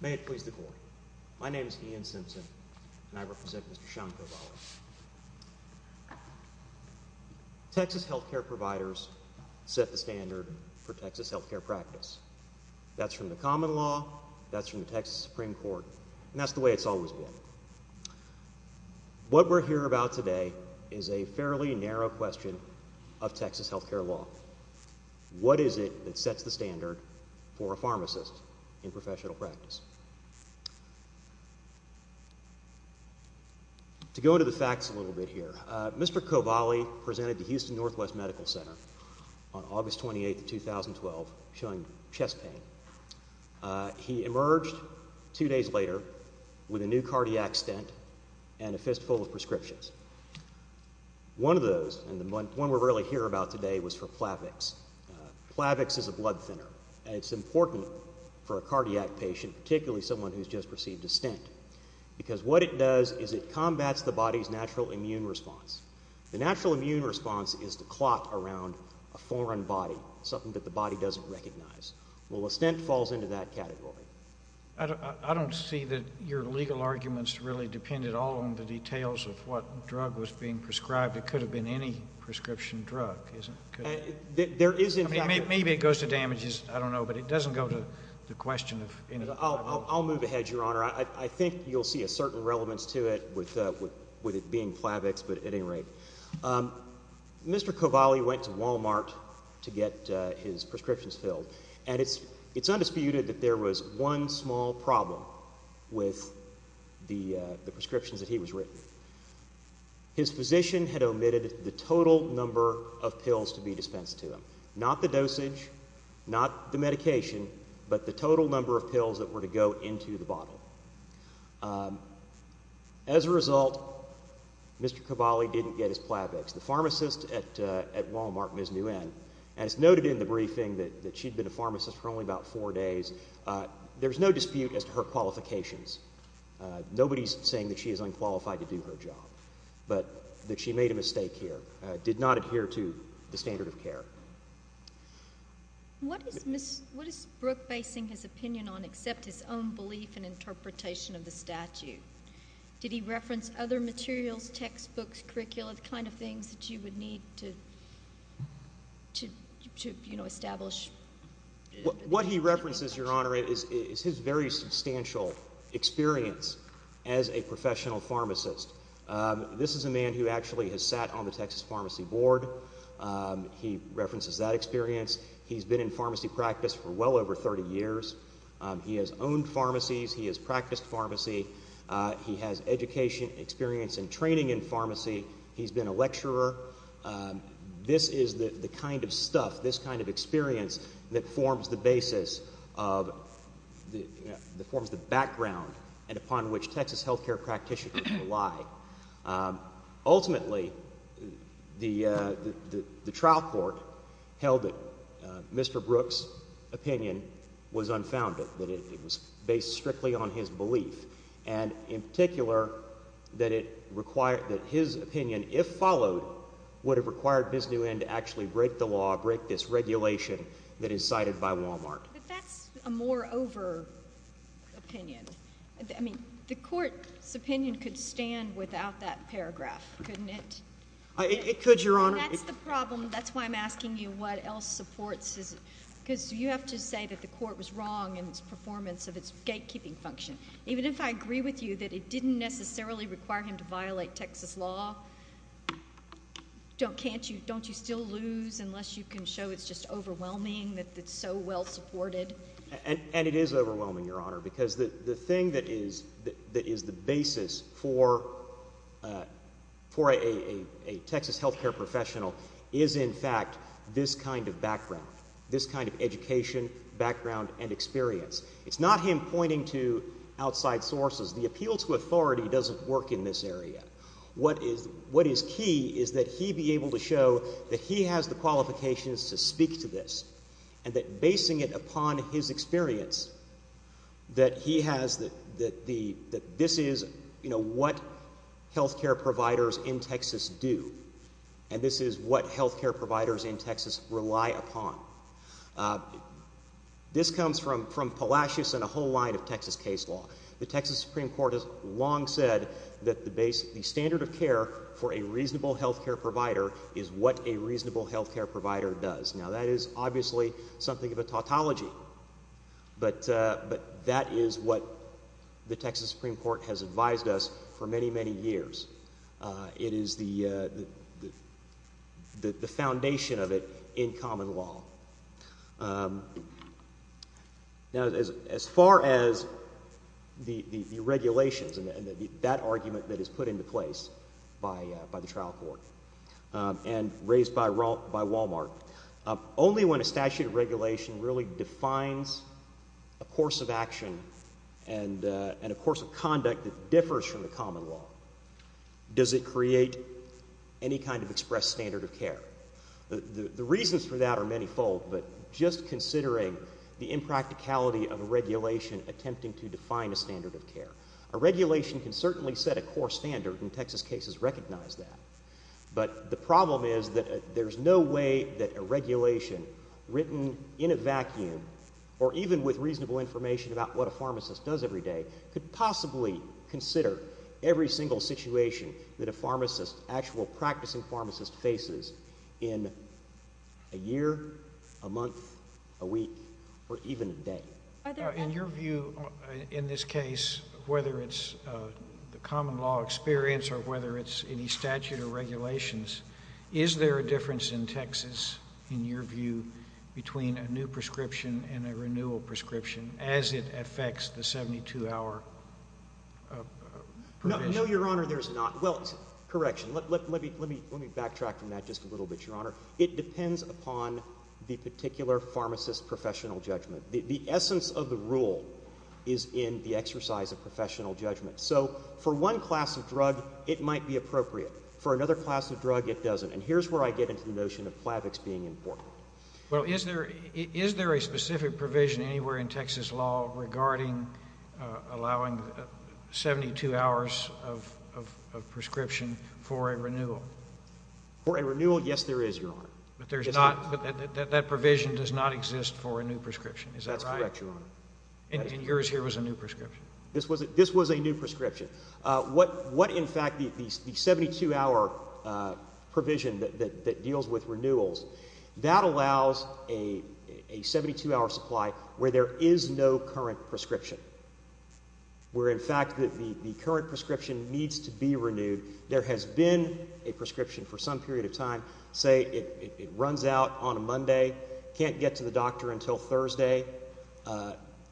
May it please the Court, my name is Ian Simpson and I represent Mr. Sean Kovaly. Texas health care providers set the standard for Texas health care practice. That's from the common law, that's from the Texas Supreme Court, and that's the way it's always been. What we're here about today is a fairly narrow question of Texas health care law. What is it that sets the standard for a pharmacist in professional practice? To go into the facts a little bit here, Mr. Kovaly presented to Houston Northwest Medical Center on August 28, 2012, showing chest pain. He emerged two days later with a new cardiac stent and a fistful of prescriptions. One of those, and the one we're really here about today, was for Plavix. Plavix is a blood thinner, and it's important for a cardiac patient, particularly someone who's just received a stent, because what it does is it combats the body's natural immune response. The natural immune response is the clot around a foreign body, something that the body doesn't recognize. Well, a stent falls into that category. I don't see that your legal arguments really depended all on the details of what drug was being prescribed. It could have been any prescription drug, couldn't it? There is in fact— Maybe it goes to damages, I don't know, but it doesn't go to the question of any— I'll move ahead, Your Honor. I think you'll see a certain relevance to it with it being Plavix, but at any rate. Mr. Cavalli went to Walmart to get his prescriptions filled, and it's undisputed that there was one small problem with the prescriptions that he was written. His physician had omitted the total number of pills to be dispensed to him, not the dosage, not the medication, but the total number of pills that were to go into the bottle. As a result, Mr. Cavalli didn't get his Plavix. The pharmacist at Walmart, Ms. Nguyen, has noted in the briefing that she'd been a pharmacist for only about four days. There's no dispute as to her qualifications. Nobody's saying that she is unqualified to do her job, but that she made a mistake here, did not adhere to the standard of care. What is Ms.—what is Brooke basing his opinion on except his own belief and interpretation of the statute? Did he reference other materials, textbooks, curricula, the kind of things that you would need to, you know, establish— What he references, Your Honor, is his very substantial experience as a professional pharmacist. This is a man who actually has sat on the Texas Pharmacy Board. He references that experience. He's been in pharmacy practice for well over 30 years. He has owned pharmacies. He has practiced pharmacy. He has education, experience, and training in pharmacy. He's been a lecturer. This is the kind of stuff, this kind of experience that forms the basis of—forms the background and upon which Texas healthcare practitioners rely. Ultimately, the trial court held that Mr. Brooke's opinion was unfounded, that it was based strictly on his belief, and in particular, that it required—that his opinion, if followed, would have required Ms. Nguyen to actually break the law, break this regulation that is cited by Wal-Mart. But that's a moreover opinion. I mean, the court's opinion could stand without that paragraph, couldn't it? It could, Your Honor. That's the problem. That's why I'm asking you what else supports his—because you have to say that the court was wrong in its performance of its gatekeeping function. Even if I agree with you that it didn't necessarily require him to violate Texas law, don't you still lose unless you can show it's just overwhelming that it's so well-supported? And it is overwhelming, Your Honor, because the thing that is the basis for a Texas healthcare professional is, in fact, this kind of background, this kind of education, background, and experience. It's not him pointing to outside sources. The appeal to authority doesn't work in this area. What is key is that he be able to show that he has the qualifications to speak to this and that basing it upon his experience, that he has—that this is what healthcare providers in Texas do and this is what healthcare providers in Texas rely upon. This comes from Palacios and a whole line of Texas case law. The Texas Supreme Court has long said that the standard of care for a reasonable healthcare provider is what a reasonable healthcare provider does. Now, that is obviously something of a tautology, but that is what the Texas Supreme Court has advised us for many, many years. It is the foundation of it in common law. Now, as far as the regulations and that argument that is put into place by the trial court and raised by Wal-Mart, only when a statute of regulation really defines a course of action and a course of conduct that differs from the common law does it create any kind of expressed standard of care. The reasons for that are many fold, but just considering the impracticality of a regulation attempting to define a standard of care, a regulation can certainly set a core standard and Texas cases recognize that, but the problem is that there is no way that a regulation written in a vacuum or even with reasonable information about what a pharmacist does every day could possibly consider every single situation that a pharmacist, actual practicing pharmacist faces in a year, a month, a week, or even a day. In your view, in this case, whether it's the common law experience or whether it's any statute of regulations, is there a difference in Texas, in your view, between a new prescription and a renewal prescription as it affects the 72-hour provision? No, Your Honor, there's not. Well, correction, let me backtrack from that just a little bit, Your Honor. It depends upon the particular pharmacist's professional judgment. The essence of the rule is in the exercise of professional judgment. So for one class of drug, it might be appropriate. For another class of drug, it doesn't. And here's where I get into the notion of FLAVIX being important. Well, is there a specific provision anywhere in Texas law regarding allowing 72 hours of prescription for a renewal? For a renewal, yes, there is, Your Honor. But that provision does not exist for a new prescription, is that right? That's correct, Your Honor. And yours here was a new prescription? This was a new prescription. What in fact, the 72-hour provision that deals with renewals, that allows a 72-hour supply where there is no current prescription, where in fact the current prescription needs to be renewed. There has been a prescription for some period of time, say it runs out on a Monday, can't get to the doctor until Thursday.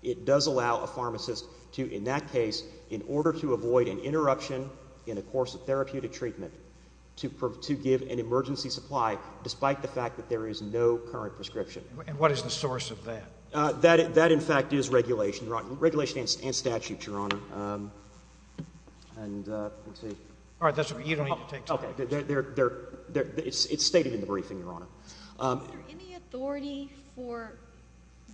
It does allow a pharmacist to, in that case, in order to avoid an interruption in a course of therapeutic treatment, to give an emergency supply despite the fact that there is no current prescription. And what is the source of that? That in fact is regulation, regulation and statute, Your Honor. And let's see. All right. That's okay. You don't need to take time. It's stated in the briefing, Your Honor. Is there any authority for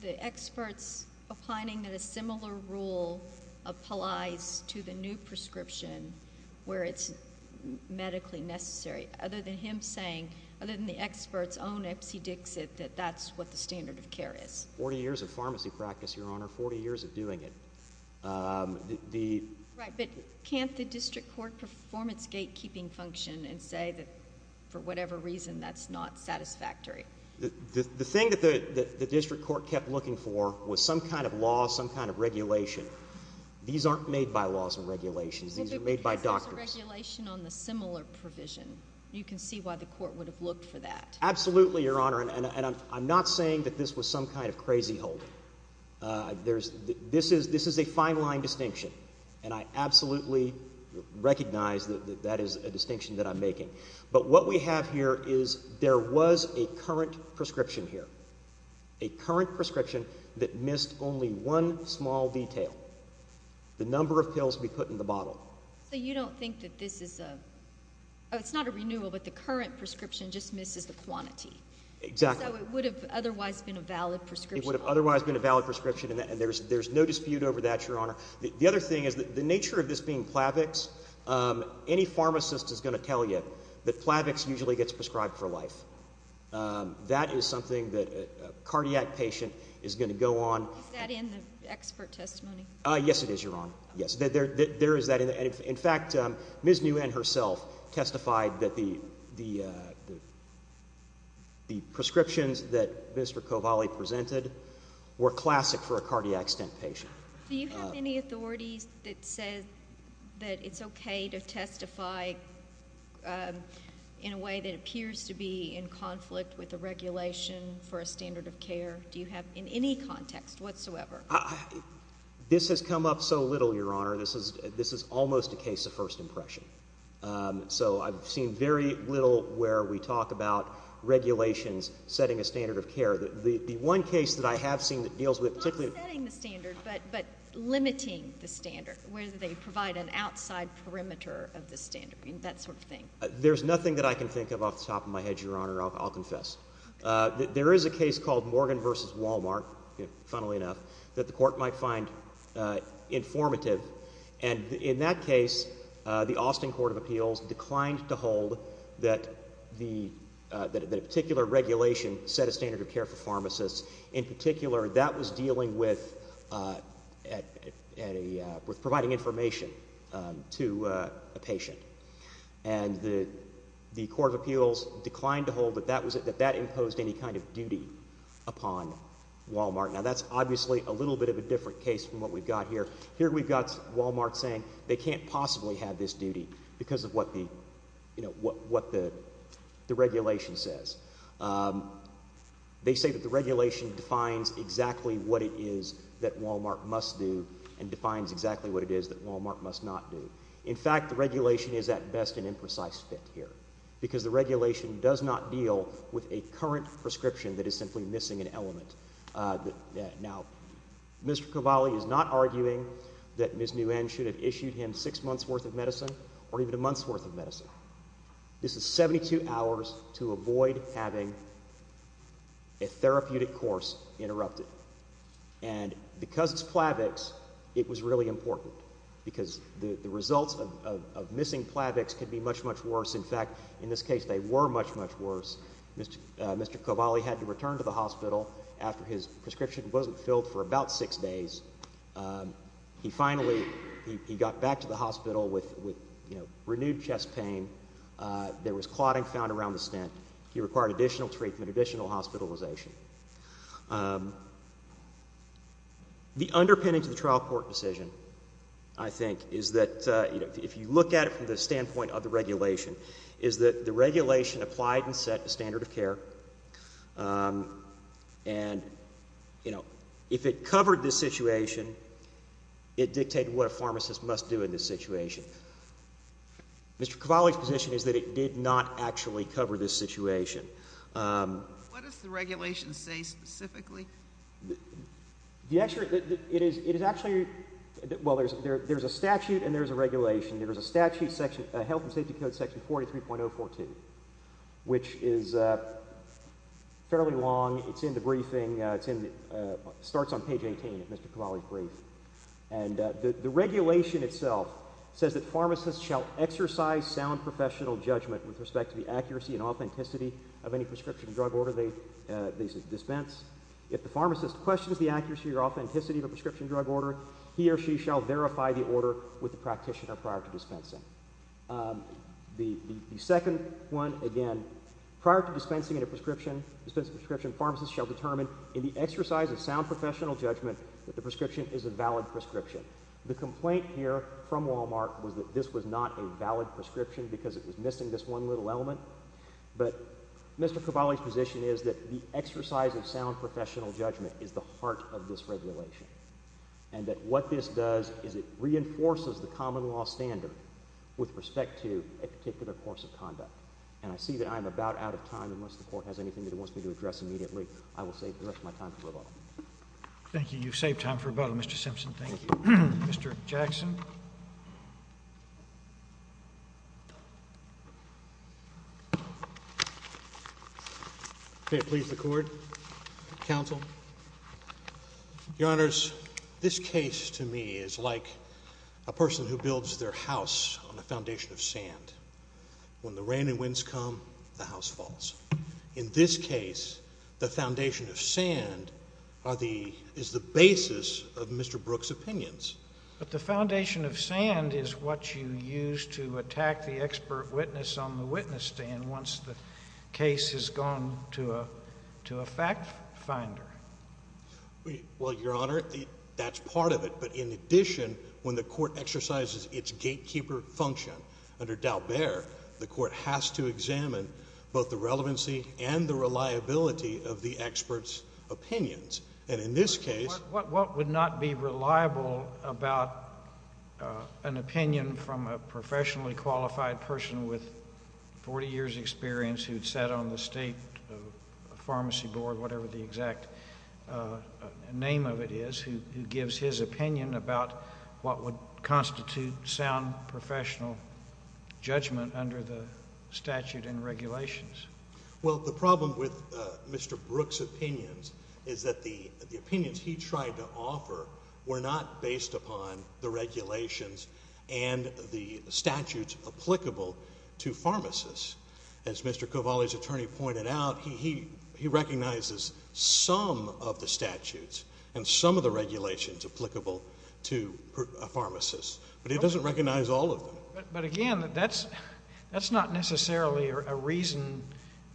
the experts opining that a similar rule applies to the new prescription where it's medically necessary? Other than him saying, other than the experts, oh, Nipsey Dixit, that that's what the standard of care is. Forty years of pharmacy practice, Your Honor. Forty years of doing it. The… Right. But can't the district court perform its gatekeeping function and say that for whatever reason that's not satisfactory? The thing that the district court kept looking for was some kind of law, some kind of regulation. These aren't made by laws and regulations. These are made by doctors. Well, but because there's a regulation on the similar provision. You can see why the court would have looked for that. Absolutely, Your Honor. And I'm not saying that this was some kind of crazy hold. There's, this is, this is a fine line distinction. And I absolutely recognize that that is a distinction that I'm making. But what we have here is there was a current prescription here. A current prescription that missed only one small detail. The number of pills to be put in the bottle. So you don't think that this is a, it's not a renewal, but the current prescription just misses the quantity. Exactly. So it would have otherwise been a valid prescription. It would have otherwise been a valid prescription and there's, there's no dispute over that, Your Honor. The other thing is that the nature of this being Plavix, any pharmacist is going to tell you that Plavix usually gets prescribed for life. That is something that a cardiac patient is going to go on. Is that in the expert testimony? Yes, it is. You're on. Yes. There is that. And in fact, Ms. Nguyen herself testified that the, the, uh, the prescriptions that Mr. Kovale presented were classic for a cardiac stent patient. Do you have any authorities that said that it's okay to testify in a way that appears to be in conflict with the regulation for a standard of care? Do you have in any context whatsoever? This has come up so little, Your Honor. This is, this is almost a case of first impression. So I've seen very little where we talk about regulations setting a standard of care. The one case that I have seen that deals with particularly... Not setting the standard, but, but limiting the standard, where they provide an outside perimeter of the standard, that sort of thing. There's nothing that I can think of off the top of my head, Your Honor, I'll, I'll confess. There is a case called Morgan v. Walmart, funnily enough, that the court might find informative, and in that case, uh, the Austin Court of Appeals declined to hold that the, uh, that a particular regulation set a standard of care for pharmacists. In particular, that was dealing with, uh, at, at a, uh, with providing information, um, to, uh, a patient. And the, the Court of Appeals declined to hold that that was, that that imposed any kind of duty upon Walmart. Now that's obviously a little bit of a different case from what we've got here. Here we've got Walmart saying they can't possibly have this duty because of what the, you know, what, what the, the regulation says. Um, they say that the regulation defines exactly what it is that Walmart must do and defines exactly what it is that Walmart must not do. In fact, the regulation is at best an imprecise fit here because the regulation does not deal with a current prescription that is simply missing an element. Uh, the, now, Mr. Cavalli is not arguing that Ms. Nguyen should have issued him six months worth of medicine or even a month's worth of medicine. This is 72 hours to avoid having a therapeutic course interrupted. And because it's Plavix, it was really important because the, the results of, of, of missing Plavix could be much, much worse. In fact, in this case, they were much, much worse. Mr., uh, Mr. Cavalli had to return to the hospital after his prescription wasn't filled for about six days. Um, he finally, he, he got back to the hospital with, with, you know, renewed chest pain. Uh, there was clotting found around the stent. He required additional treatment, additional hospitalization. Um, the underpinning to the trial court decision, I think, is that, uh, you know, if you look at it from the standpoint of the regulation, is that the regulation applied and set the standard of care, um, and, you know, if it covered this situation, it dictated what a pharmacist must do in this situation. Mr. Cavalli's position is that it did not actually cover this situation. Um. What does the regulation say specifically? The actual, it is, it is actually, well, there's, there, there's a statute and there's a regulation. There's a statute section, uh, Health and Safety Code section 43.014, which is, uh, fairly long. It's in the briefing. Uh, it's in the, uh, starts on page 18 of Mr. Cavalli's brief. And, uh, the, the regulation itself says that pharmacists shall exercise sound professional judgment with respect to the accuracy and authenticity of any prescription drug order they, uh, they dispense. If the pharmacist questions the accuracy or authenticity of a prescription drug order, he or she shall verify the order with the practitioner prior to dispensing. Um. The, the, the second one, again, prior to dispensing a prescription, dispensing a prescription, pharmacists shall determine in the exercise of sound professional judgment that the prescription is a valid prescription. The complaint here from Wal-Mart was that this was not a valid prescription because it was missing this one little element. But Mr. Cavalli's position is that the exercise of sound professional judgment is the heart of this regulation. And that what this does is it reinforces the common law standard with respect to a particular course of conduct. And I see that I am about out of time, unless the court has anything that it wants me to address immediately. I will save the rest of my time for rebuttal. Thank you. You've saved time for rebuttal, Mr. Simpson. Thank you. Mr. Jackson. May it please the court. Counsel. Your Honors, this case to me is like a person who builds their house on a foundation of sand. When the rain and winds come, the house falls. In this case, the foundation of sand are the, is the basis of Mr. Brooks' opinions. But the foundation of sand is what you use to attack the expert witness on the witness stand once the case has gone to a, to a fact finder. Well, Your Honor, that's part of it. But in addition, when the court exercises its gatekeeper function under Dalbert, the court has to examine both the relevancy and the reliability of the expert's opinions. And in this case— But what would not be reliable about an opinion from a professionally qualified person with 40 years' experience who'd sat on the state pharmacy board, whatever the exact name of it is, who gives his opinion about what would constitute sound professional judgment under the statute and regulations? Well, the problem with Mr. Brooks' opinions is that the opinions he tried to offer were not based upon the regulations and the statutes applicable to pharmacists. As Mr. Cavalli's attorney pointed out, he recognizes some of the statutes and some of the regulations applicable to a pharmacist, but he doesn't recognize all of them. But again, that's, that's not necessarily a reason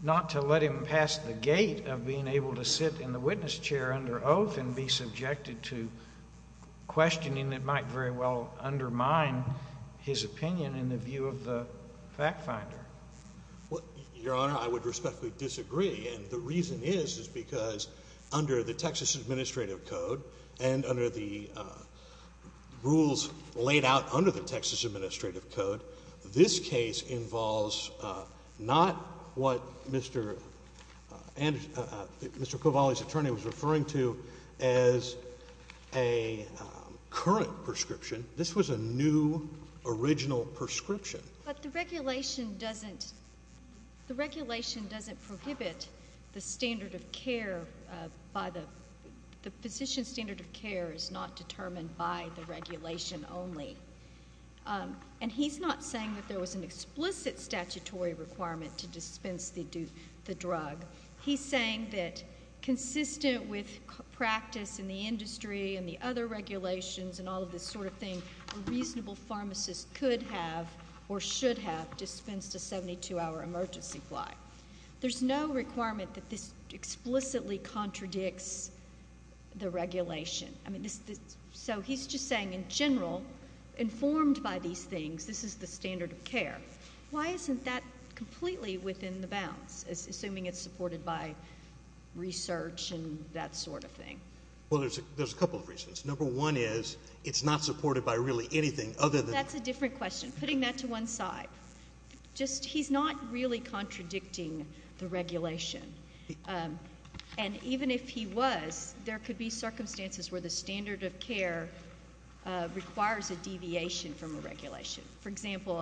not to let him pass the gate of being able to sit in the witness chair under oath and be subjected to questioning that might very well undermine his opinion in the view of the fact finder. Well, Your Honor, I would respectfully disagree, and the reason is, is because under the Texas Administrative Code, this case involves not what Mr. and Mr. Cavalli's attorney was referring to as a current prescription. This was a new, original prescription. But the regulation doesn't, the regulation doesn't prohibit the standard of care by the, the physician's standard of care is not determined by the regulation only. And he's not saying that there was an explicit statutory requirement to dispense the drug. He's saying that consistent with practice in the industry and the other regulations and all of this sort of thing, a reasonable pharmacist could have or should have dispensed a 72-hour emergency fly. There's no requirement that this explicitly contradicts the regulation. I mean, this, this, so he's just saying in general, informed by these things, this is the standard of care. Why isn't that completely within the bounds, assuming it's supported by research and that sort of thing? Well, there's a, there's a couple of reasons. Number one is, it's not supported by really anything other than. That's a different question. Putting that to one side. Just, he's not really contradicting the regulation. And even if he was, there could be circumstances where the standard of care requires a deviation from a regulation. For example,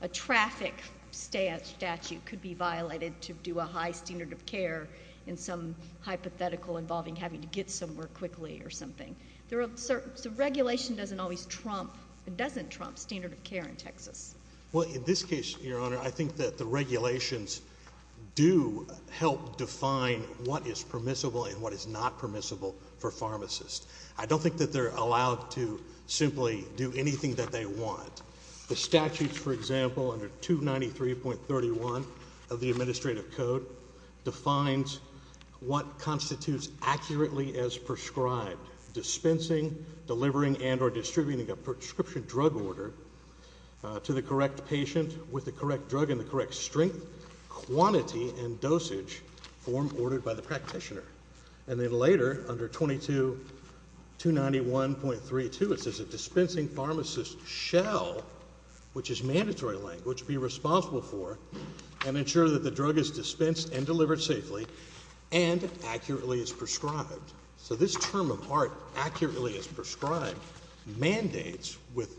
a traffic statute could be violated to do a high standard of care in some hypothetical involving having to get somewhere quickly or something. There are certain, so regulation doesn't always trump, it doesn't trump standard of care in Texas. Well, in this case, your honor, I think that the regulations do help define what is permissible and what is not permissible for pharmacists. I don't think that they're allowed to simply do anything that they want. The statutes, for example, under 293.31 of the administrative code defines what constitutes accurately as prescribed, dispensing, delivering, and or distributing a prescription drug order to the correct patient with the correct drug and the correct strength, quantity, and dosage form ordered by the practitioner. And then later, under 22291.32, it says a dispensing pharmacist shall, which is mandatory language, be responsible for and ensure that the drug is dispensed and delivered safely and accurately as prescribed. So this term of art, accurately as prescribed, mandates with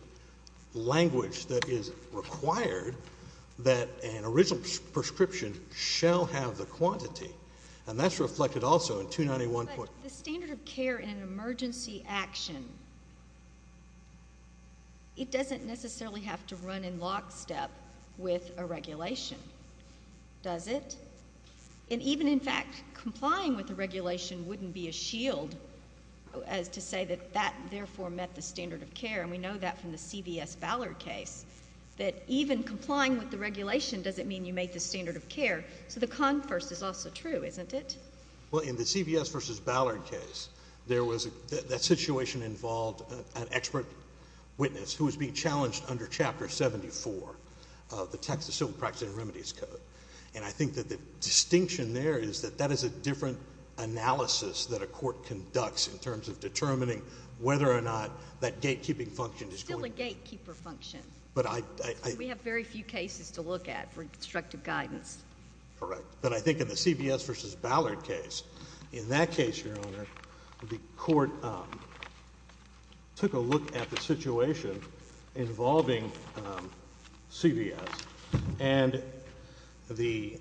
language that is required that an original prescription shall have the quantity. And that's reflected also in 291. But the standard of care in an emergency action, it doesn't necessarily have to run in lockstep with a regulation, does it? And even, in fact, complying with the regulation wouldn't be a shield as to say that that therefore met the standard of care. And we know that from the CVS Ballard case, that even complying with the regulation doesn't mean you meet the standard of care. So the converse is also true, isn't it? Well, in the CVS versus Ballard case, that situation involved an expert witness who was being challenged under Chapter 74 of the Texas Civil Practice and Remedies Code. And I think that the distinction there is that that is a different analysis that a court conducts in terms of determining whether or not that gatekeeping function is going to be. It's still a gatekeeper function. But I— We have very few cases to look at for instructive guidance. Correct. But I think in the CVS versus Ballard case, in that case, Your Honor, the court took a look at the situation involving CVS, and the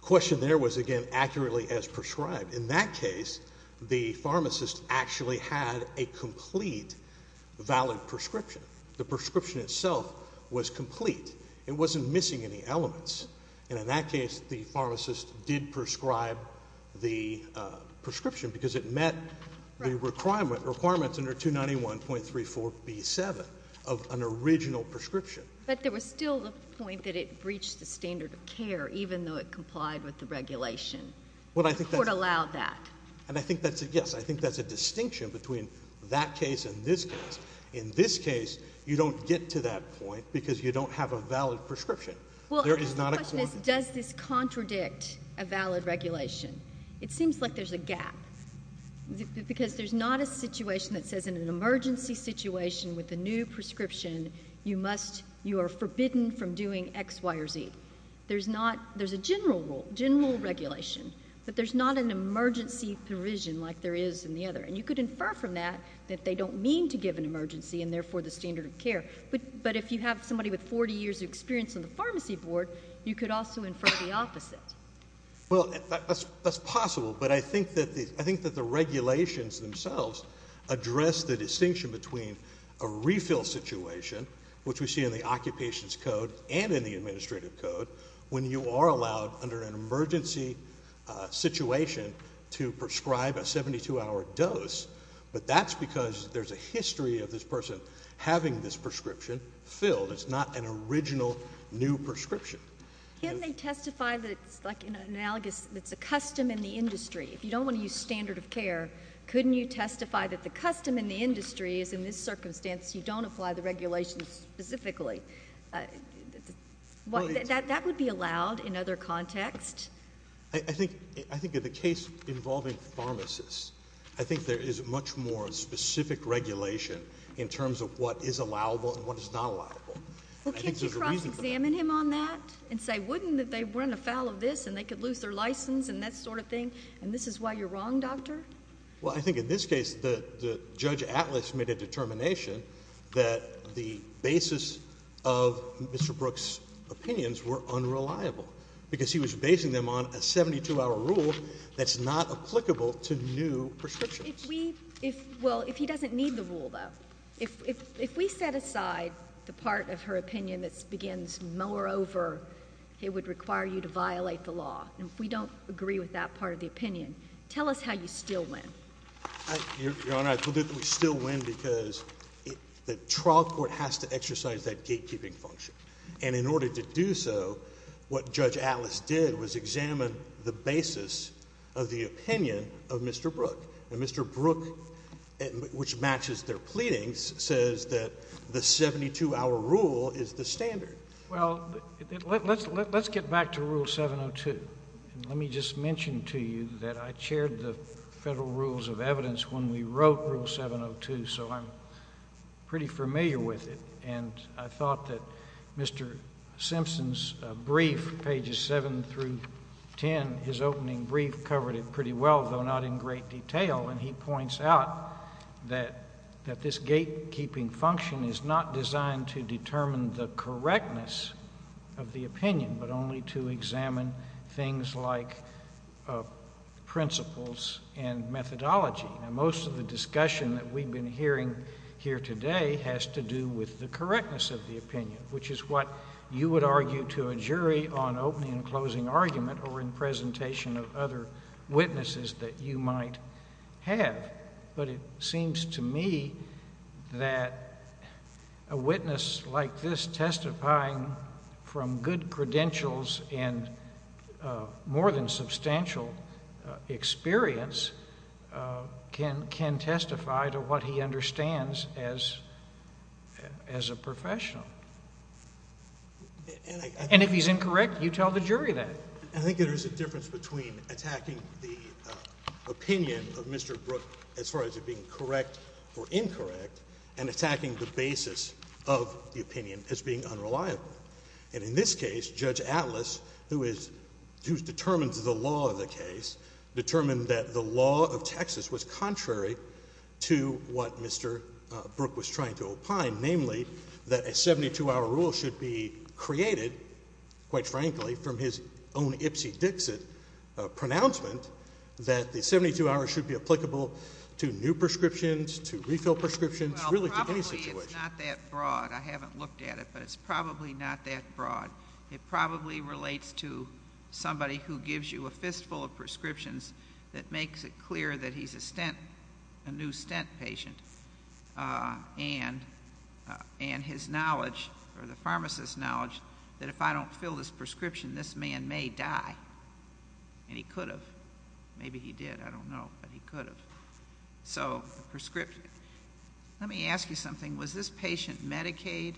question there was, again, accurately as prescribed. In that case, the pharmacist actually had a complete valid prescription. The prescription itself was complete. It wasn't missing any elements. And in that case, the pharmacist did prescribe the prescription because it met the requirements under 291.34b7 of an original prescription. But there was still the point that it breached the standard of care, even though it complied with the regulation. Well, I think that's— The court allowed that. And I think that's a—yes, I think that's a distinction between that case and this case. In this case, you don't get to that point because you don't have a valid prescription. There is not a— Well, my question is, does this contradict a valid regulation? It seems like there's a gap, because there's not a situation that says in an emergency situation with a new prescription, you must—you are forbidden from doing X, Y, or Z. There's not—there's a general rule, general regulation, but there's not an emergency provision like there is in the other. And you could infer from that that they don't mean to give an emergency, and therefore the standard of care. But if you have somebody with 40 years' experience on the pharmacy board, you could also infer the opposite. Well, that's possible, but I think that the regulations themselves address the distinction between a refill situation, which we see in the Occupations Code and in the Administrative Code, when you are allowed under an emergency situation to prescribe a 72-hour dose. But that's because there's a history of this person having this prescription filled. It's not an original new prescription. Can't they testify that it's like an analogous—that it's a custom in the industry? If you don't want to use standard of care, couldn't you testify that the custom in the industry is in this circumstance, you don't apply the regulations specifically? That would be allowed in other contexts? I think in the case involving pharmacists, I think there is much more specific regulation in terms of what is allowable and what is not allowable. Well, can't you cross-examine him on that and say, wouldn't they run afoul of this and they could lose their license and that sort of thing, and this is why you're wrong, Doctor? Well, I think in this case, Judge Atlas made a determination that the basis of Mr. Brooks' opinions were unreliable because he was basing them on a 72-hour rule that's not applicable to new prescriptions. If we—well, if he doesn't need the rule, though, if we set aside the part of her opinion that begins, moreover, it would require you to violate the law, and if we don't agree with that part of the opinion, tell us how you still win. Your Honor, I told you that we still win because the trial court has to exercise that gatekeeping function. And in order to do so, what Judge Atlas did was examine the basis of the opinion of Mr. Brooks, which matches their pleadings, says that the 72-hour rule is the standard. Well, let's get back to Rule 702, and let me just mention to you that I chaired the Federal Rules of Evidence when we wrote Rule 702, so I'm pretty familiar with it. And I thought that Mr. Simpson's brief, pages 7 through 10, his opening brief covered it pretty well, though not in great detail, and he points out that this gatekeeping function is not designed to determine the correctness of the opinion, but only to examine things like principles and methodology. Now, most of the discussion that we've been hearing here today has to do with the correctness of the opinion, which is what you would argue to a jury on opening and closing argument or in presentation of other witnesses that you might have. But it seems to me that a witness like this testifying from good credentials and more than substantial experience can testify to what he understands as a professional. And if he's incorrect, you tell the jury that. I think there is a difference between attacking the opinion of Mr. Brooke as far as it being correct or incorrect, and attacking the basis of the opinion as being unreliable. And in this case, Judge Atlas, who determines the law of the case, determined that the law of Texas was contrary to what Mr. Brooke was trying to opine, namely that a 72-hour rule should be created, quite frankly, from his own ipsy-dixit pronouncement, that the 72 hours should be applicable to new prescriptions, to refill prescriptions, really to any situation. Well, probably it's not that broad. I haven't looked at it, but it's probably not that broad. It probably relates to somebody who gives you a fistful of prescriptions that makes it clear that he's a new stent patient, and his knowledge or the pharmacist's knowledge that if I don't fill this prescription, this man may die, and he could have. Maybe he did. I don't know. But he could have. So the prescription. Let me ask you something. Was this patient Medicaid?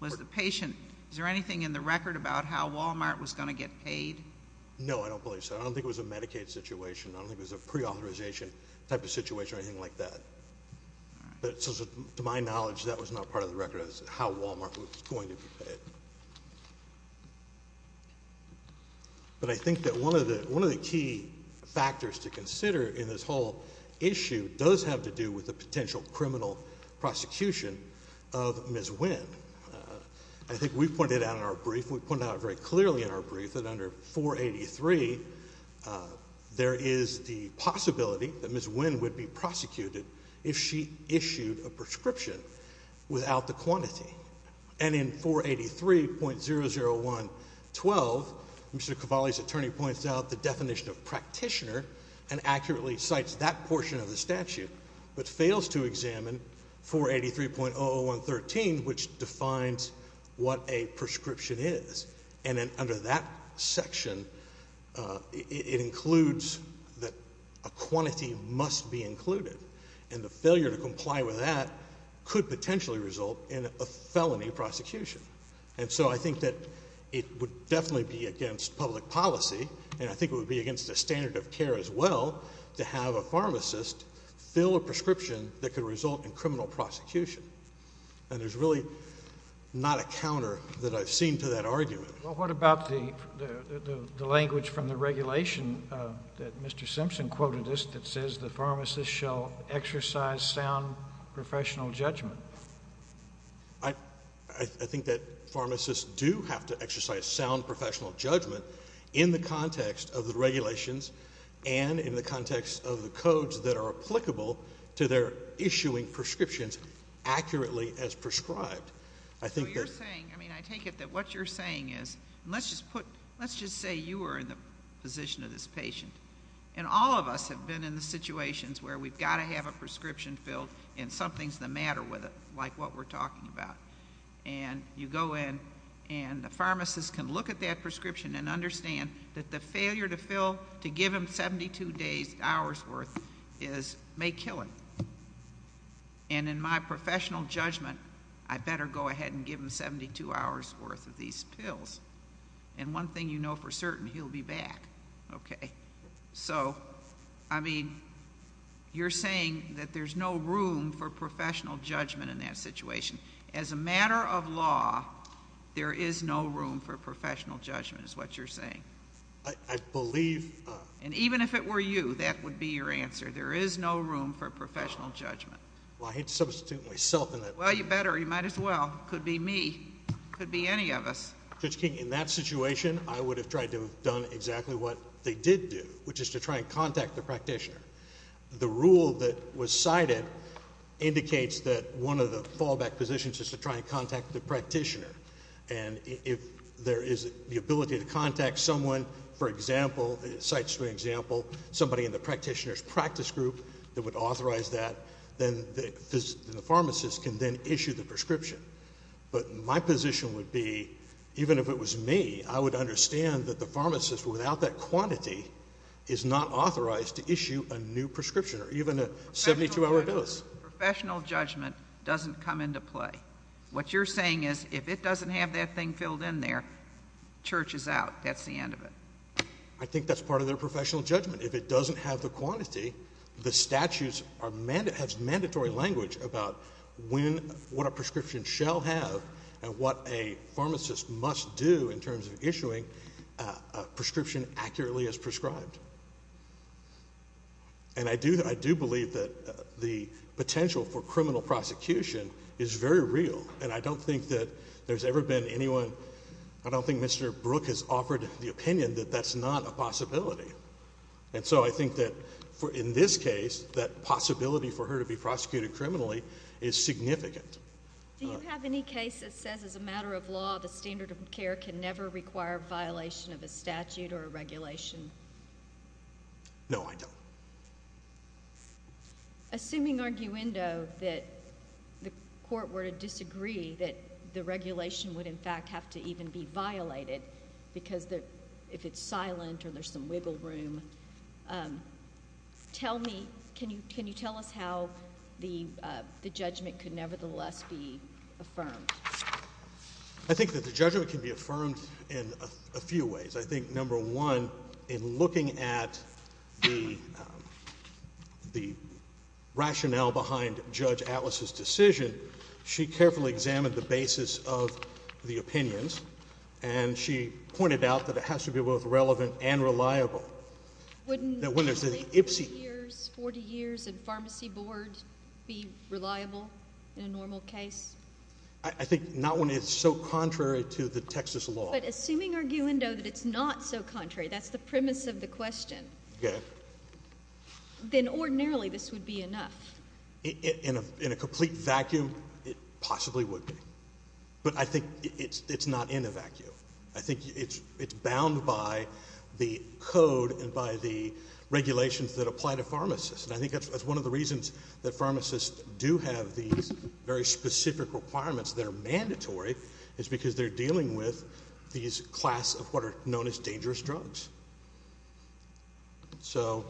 Was the patient—is there anything in the record about how Walmart was going to get paid? No, I don't believe so. I don't think it was a Medicaid situation. I don't think it was a pre-authorization type of situation or anything like that. So to my knowledge, that was not part of the record as to how Walmart was going to be paid. But I think that one of the key factors to consider in this whole issue does have to do with the potential criminal prosecution of Ms. Wynn. I think we pointed out in our brief, and we pointed out very clearly in our brief, that under 483, there is the possibility that Ms. Wynn would be prosecuted if she issued a prescription without the quantity. And in 483.001.12, Mr. Cavalli's attorney points out the definition of practitioner and accurately cites that portion of the statute, but fails to examine 483.001.13, which defines what a prescription is. And then under that section, it includes that a quantity must be included. And the failure to comply with that could potentially result in a felony prosecution. And so I think that it would definitely be against public policy, and I think it would be against the standard of care as well, to have a pharmacist fill a prescription that could result in criminal prosecution. And there's really not a counter that I've seen to that argument. Well, what about the language from the regulation that Mr. Simpson quoted that says the pharmacist shall exercise sound professional judgment? I think that pharmacists do have to exercise sound professional judgment in the context of the regulations and in the context of the codes that are applicable to their issuing of prescriptions accurately as prescribed. I think that... So you're saying, I mean, I take it that what you're saying is, let's just put, let's just say you were in the position of this patient, and all of us have been in the situations where we've got to have a prescription filled and something's the matter with it, like what we're talking about. And you go in and the pharmacist can look at that prescription and understand that the And in my professional judgment, I better go ahead and give him 72 hours worth of these pills. And one thing you know for certain, he'll be back. Okay. So, I mean, you're saying that there's no room for professional judgment in that situation. As a matter of law, there is no room for professional judgment is what you're saying. I believe... And even if it were you, that would be your answer. There is no room for professional judgment. Well, I hate to substitute myself in that. Well, you better. You might as well. It could be me. It could be any of us. Judge King, in that situation, I would have tried to have done exactly what they did do, which is to try and contact the practitioner. The rule that was cited indicates that one of the fallback positions is to try and contact the practitioner. And if there is the ability to contact someone, for example, sites for example, somebody in the practitioner's practice group that would authorize that, then the pharmacist can then issue the prescription. But my position would be, even if it was me, I would understand that the pharmacist, without that quantity, is not authorized to issue a new prescription or even a 72-hour dose. Professional judgment doesn't come into play. What you're saying is, if it doesn't have that thing filled in there, church is out. That's the end of it. I think that's part of their professional judgment. If it doesn't have the quantity, the statutes have mandatory language about what a prescription shall have and what a pharmacist must do in terms of issuing a prescription accurately as prescribed. And I do believe that the potential for criminal prosecution is very real. And I don't think that there's ever been anyone, I don't think Mr. Brook has offered the opinion that that's not a possibility. And so I think that, in this case, that possibility for her to be prosecuted criminally is significant. Do you have any case that says, as a matter of law, the standard of care can never require violation of a statute or a regulation? No, I don't. Assuming, arguendo, that the court were to disagree that the regulation would in fact have to even be violated, because if it's silent or there's some wiggle room. Tell me, can you tell us how the judgment could nevertheless be affirmed? I think that the judgment can be affirmed in a few ways. I think, number one, in looking at the rationale behind Judge Atlas's decision, she carefully examined the basis of the opinions, and she pointed out that it has to be both relevant and reliable. Wouldn't 40 years in pharmacy board be reliable in a normal case? I think not when it's so contrary to the Texas law. But assuming, arguendo, that it's not so contrary, that's the premise of the question, then ordinarily this would be enough. In a complete vacuum, it possibly would be. But I think it's not in a vacuum. I think it's bound by the code and by the regulations that apply to pharmacists. And I think that's one of the reasons that pharmacists do have these very specific requirements that are mandatory, is because they're dealing with these class of what are known as dangerous drugs. So,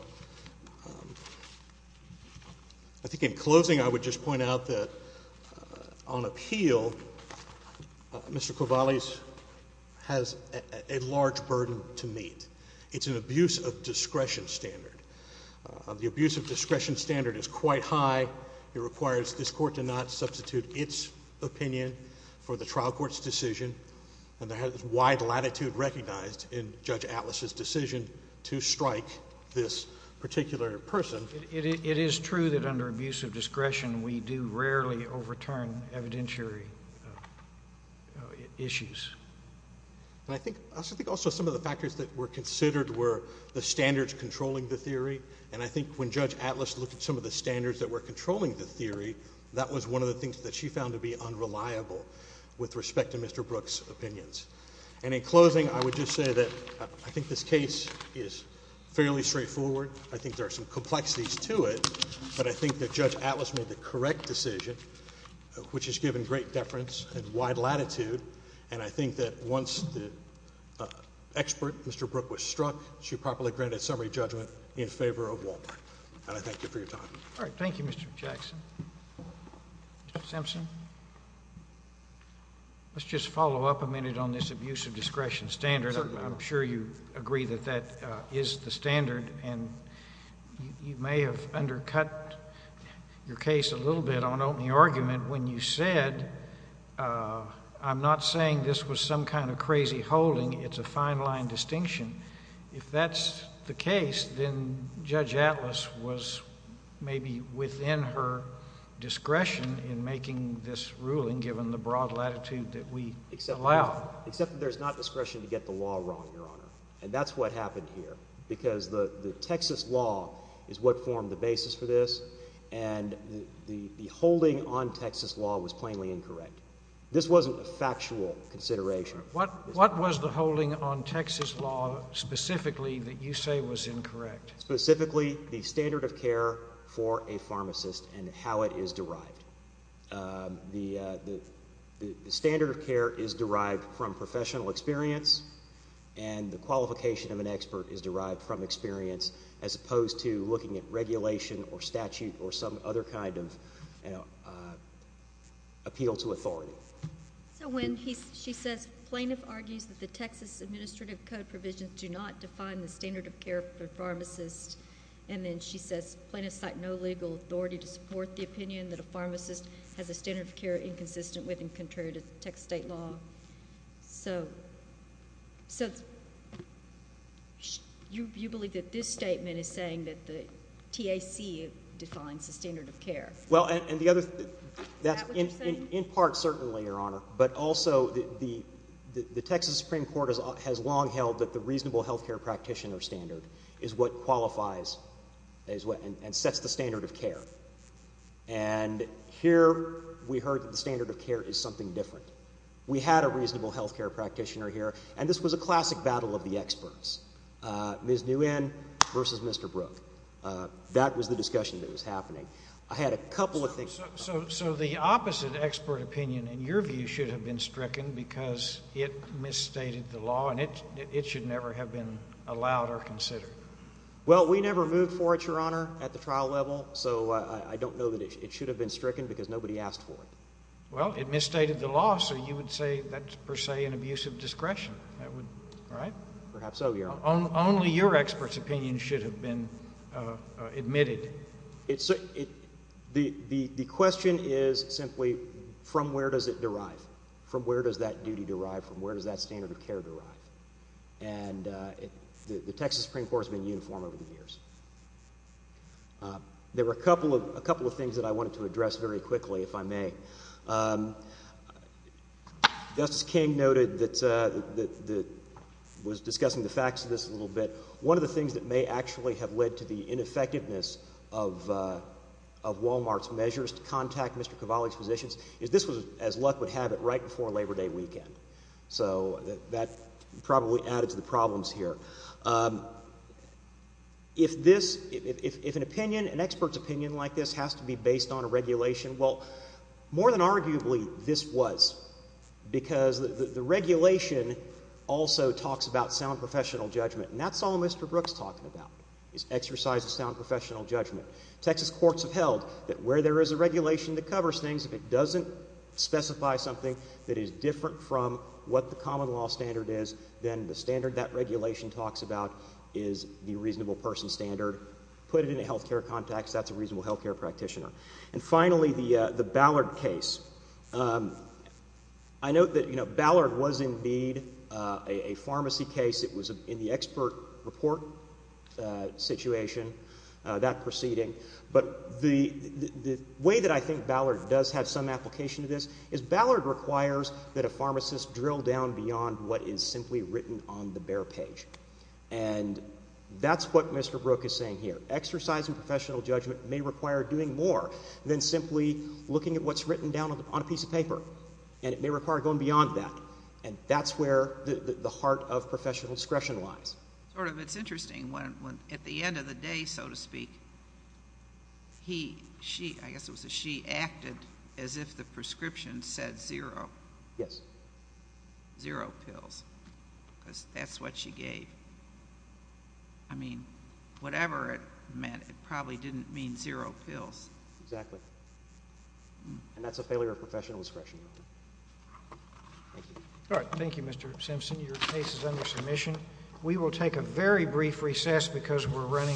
I think in closing, I would just point out that on appeal, Mr. Kovales has a large burden to meet. It's an abuse of discretion standard. The abuse of discretion standard is quite high. It requires this court to not substitute its opinion for the trial court's decision. And there is wide latitude recognized in Judge Atlas's decision to strike this particular person. It is true that under abuse of discretion, we do rarely overturn evidentiary issues. I think also some of the factors that were considered were the standards controlling the theory. And I think when Judge Atlas looked at some of the standards that were controlling the theory, that was one of the things that she found to be unreliable with respect to Mr. Brooks' opinions. And in closing, I would just say that I think this case is fairly straightforward. I think there are some complexities to it, but I think that Judge Atlas made the correct decision, which has given great deference and wide latitude. And I think that once the expert, Mr. Brooks, was struck, she properly granted summary judgment in favor of Wal-Mart. And I thank you for your time. All right. Thank you, Mr. Jackson. Mr. Simpson? Let's just follow up a minute on this abuse of discretion standard. I'm sure you agree that that is the standard. And you may have undercut your case a little bit on opening argument when you said, I'm not saying this was some kind of crazy holding. It's a fine line distinction. If that's the case, then Judge Atlas was maybe within her discretion in making this ruling, given the broad latitude that we allow. Except that there's not discretion to get the law wrong, Your Honor. And that's what happened here. Because the Texas law is what formed the basis for this. And the holding on Texas law was plainly incorrect. This wasn't a factual consideration. What was the holding on Texas law specifically that you say was incorrect? Specifically the standard of care for a pharmacist and how it is derived. The standard of care is derived from professional experience and the qualification of an expert is derived from experience, as opposed to looking at regulation or statute or some other kind of, you know, appeal to authority. So when she says plaintiff argues that the Texas Administrative Code provisions do not define the standard of care for pharmacists, and then she says plaintiffs cite no legal authority to support the opinion that a pharmacist has a standard of care inconsistent with and contrary to Texas state law. So you believe that this statement is saying that the TAC defines the standard of care? Well, and the other thing, in part certainly, Your Honor. But also the Texas Supreme Court has long held that the reasonable health care practitioner standard is what qualifies and sets the standard of care. And here we heard that the standard of care is something different. We had a reasonable health care practitioner here. And this was a classic battle of the experts, Ms. Nguyen versus Mr. Brooke. That was the discussion that was happening. I had a couple of things. So the opposite expert opinion, in your view, should have been stricken because it misstated the law and it should never have been allowed or considered? Well, we never moved for it, Your Honor, at the trial level. So I don't know that it should have been stricken because nobody asked for it. Well, it misstated the law. So you would say that's per se an abuse of discretion, right? Perhaps so, Your Honor. Only your expert's opinion should have been admitted. The question is simply, from where does it derive? From where does that duty derive? From where does that standard of care derive? And the Texas Supreme Court has been uniform over the years. There were a couple of things that I wanted to address very quickly, if I may. Justice King noted that, was discussing the facts of this a little bit. One of the things that may actually have led to the ineffectiveness of Wal-Mart's measures to contact Mr. Cavalli's physicians is this was as luck would have it, right before Labor Day weekend. So that probably added to the problems here. If an opinion, an expert's opinion like this has to be based on a regulation, well, more than arguably, this was. Because the regulation also talks about sound professional judgment. And that's all Mr. Brooks is talking about, is exercise of sound professional judgment. Texas courts have held that where there is a regulation that covers things, if it doesn't specify something that is different from what the common law standard is, then the standard that regulation talks about is the reasonable person standard. Put it in a health care context, that's a reasonable health care practitioner. And finally, the Ballard case. I note that Ballard was indeed a pharmacy case. It was in the expert report situation, that proceeding. But the way that I think Ballard does have some application to this is Ballard requires that a pharmacist drill down beyond what is simply written on the bare page. And that's what Mr. Brooks is saying here. Exercise and professional judgment may require doing more than simply looking at what's written down on a piece of paper. And it may require going beyond that. And that's where the heart of professional discretion lies. Sort of. It's interesting. At the end of the day, so to speak, he, she, I guess it was a she, acted as if the prescription said zero. Yes. Zero pills. Because that's what she gave. I mean, whatever it meant, it probably didn't mean zero pills. Thank you. Thank you. Thank you. Thank you. Thank you. Thank you. Thank you. Thank you. All right. Thank you, Mr. Simpson. Your case is under submission. We will take a very brief recess because we're running.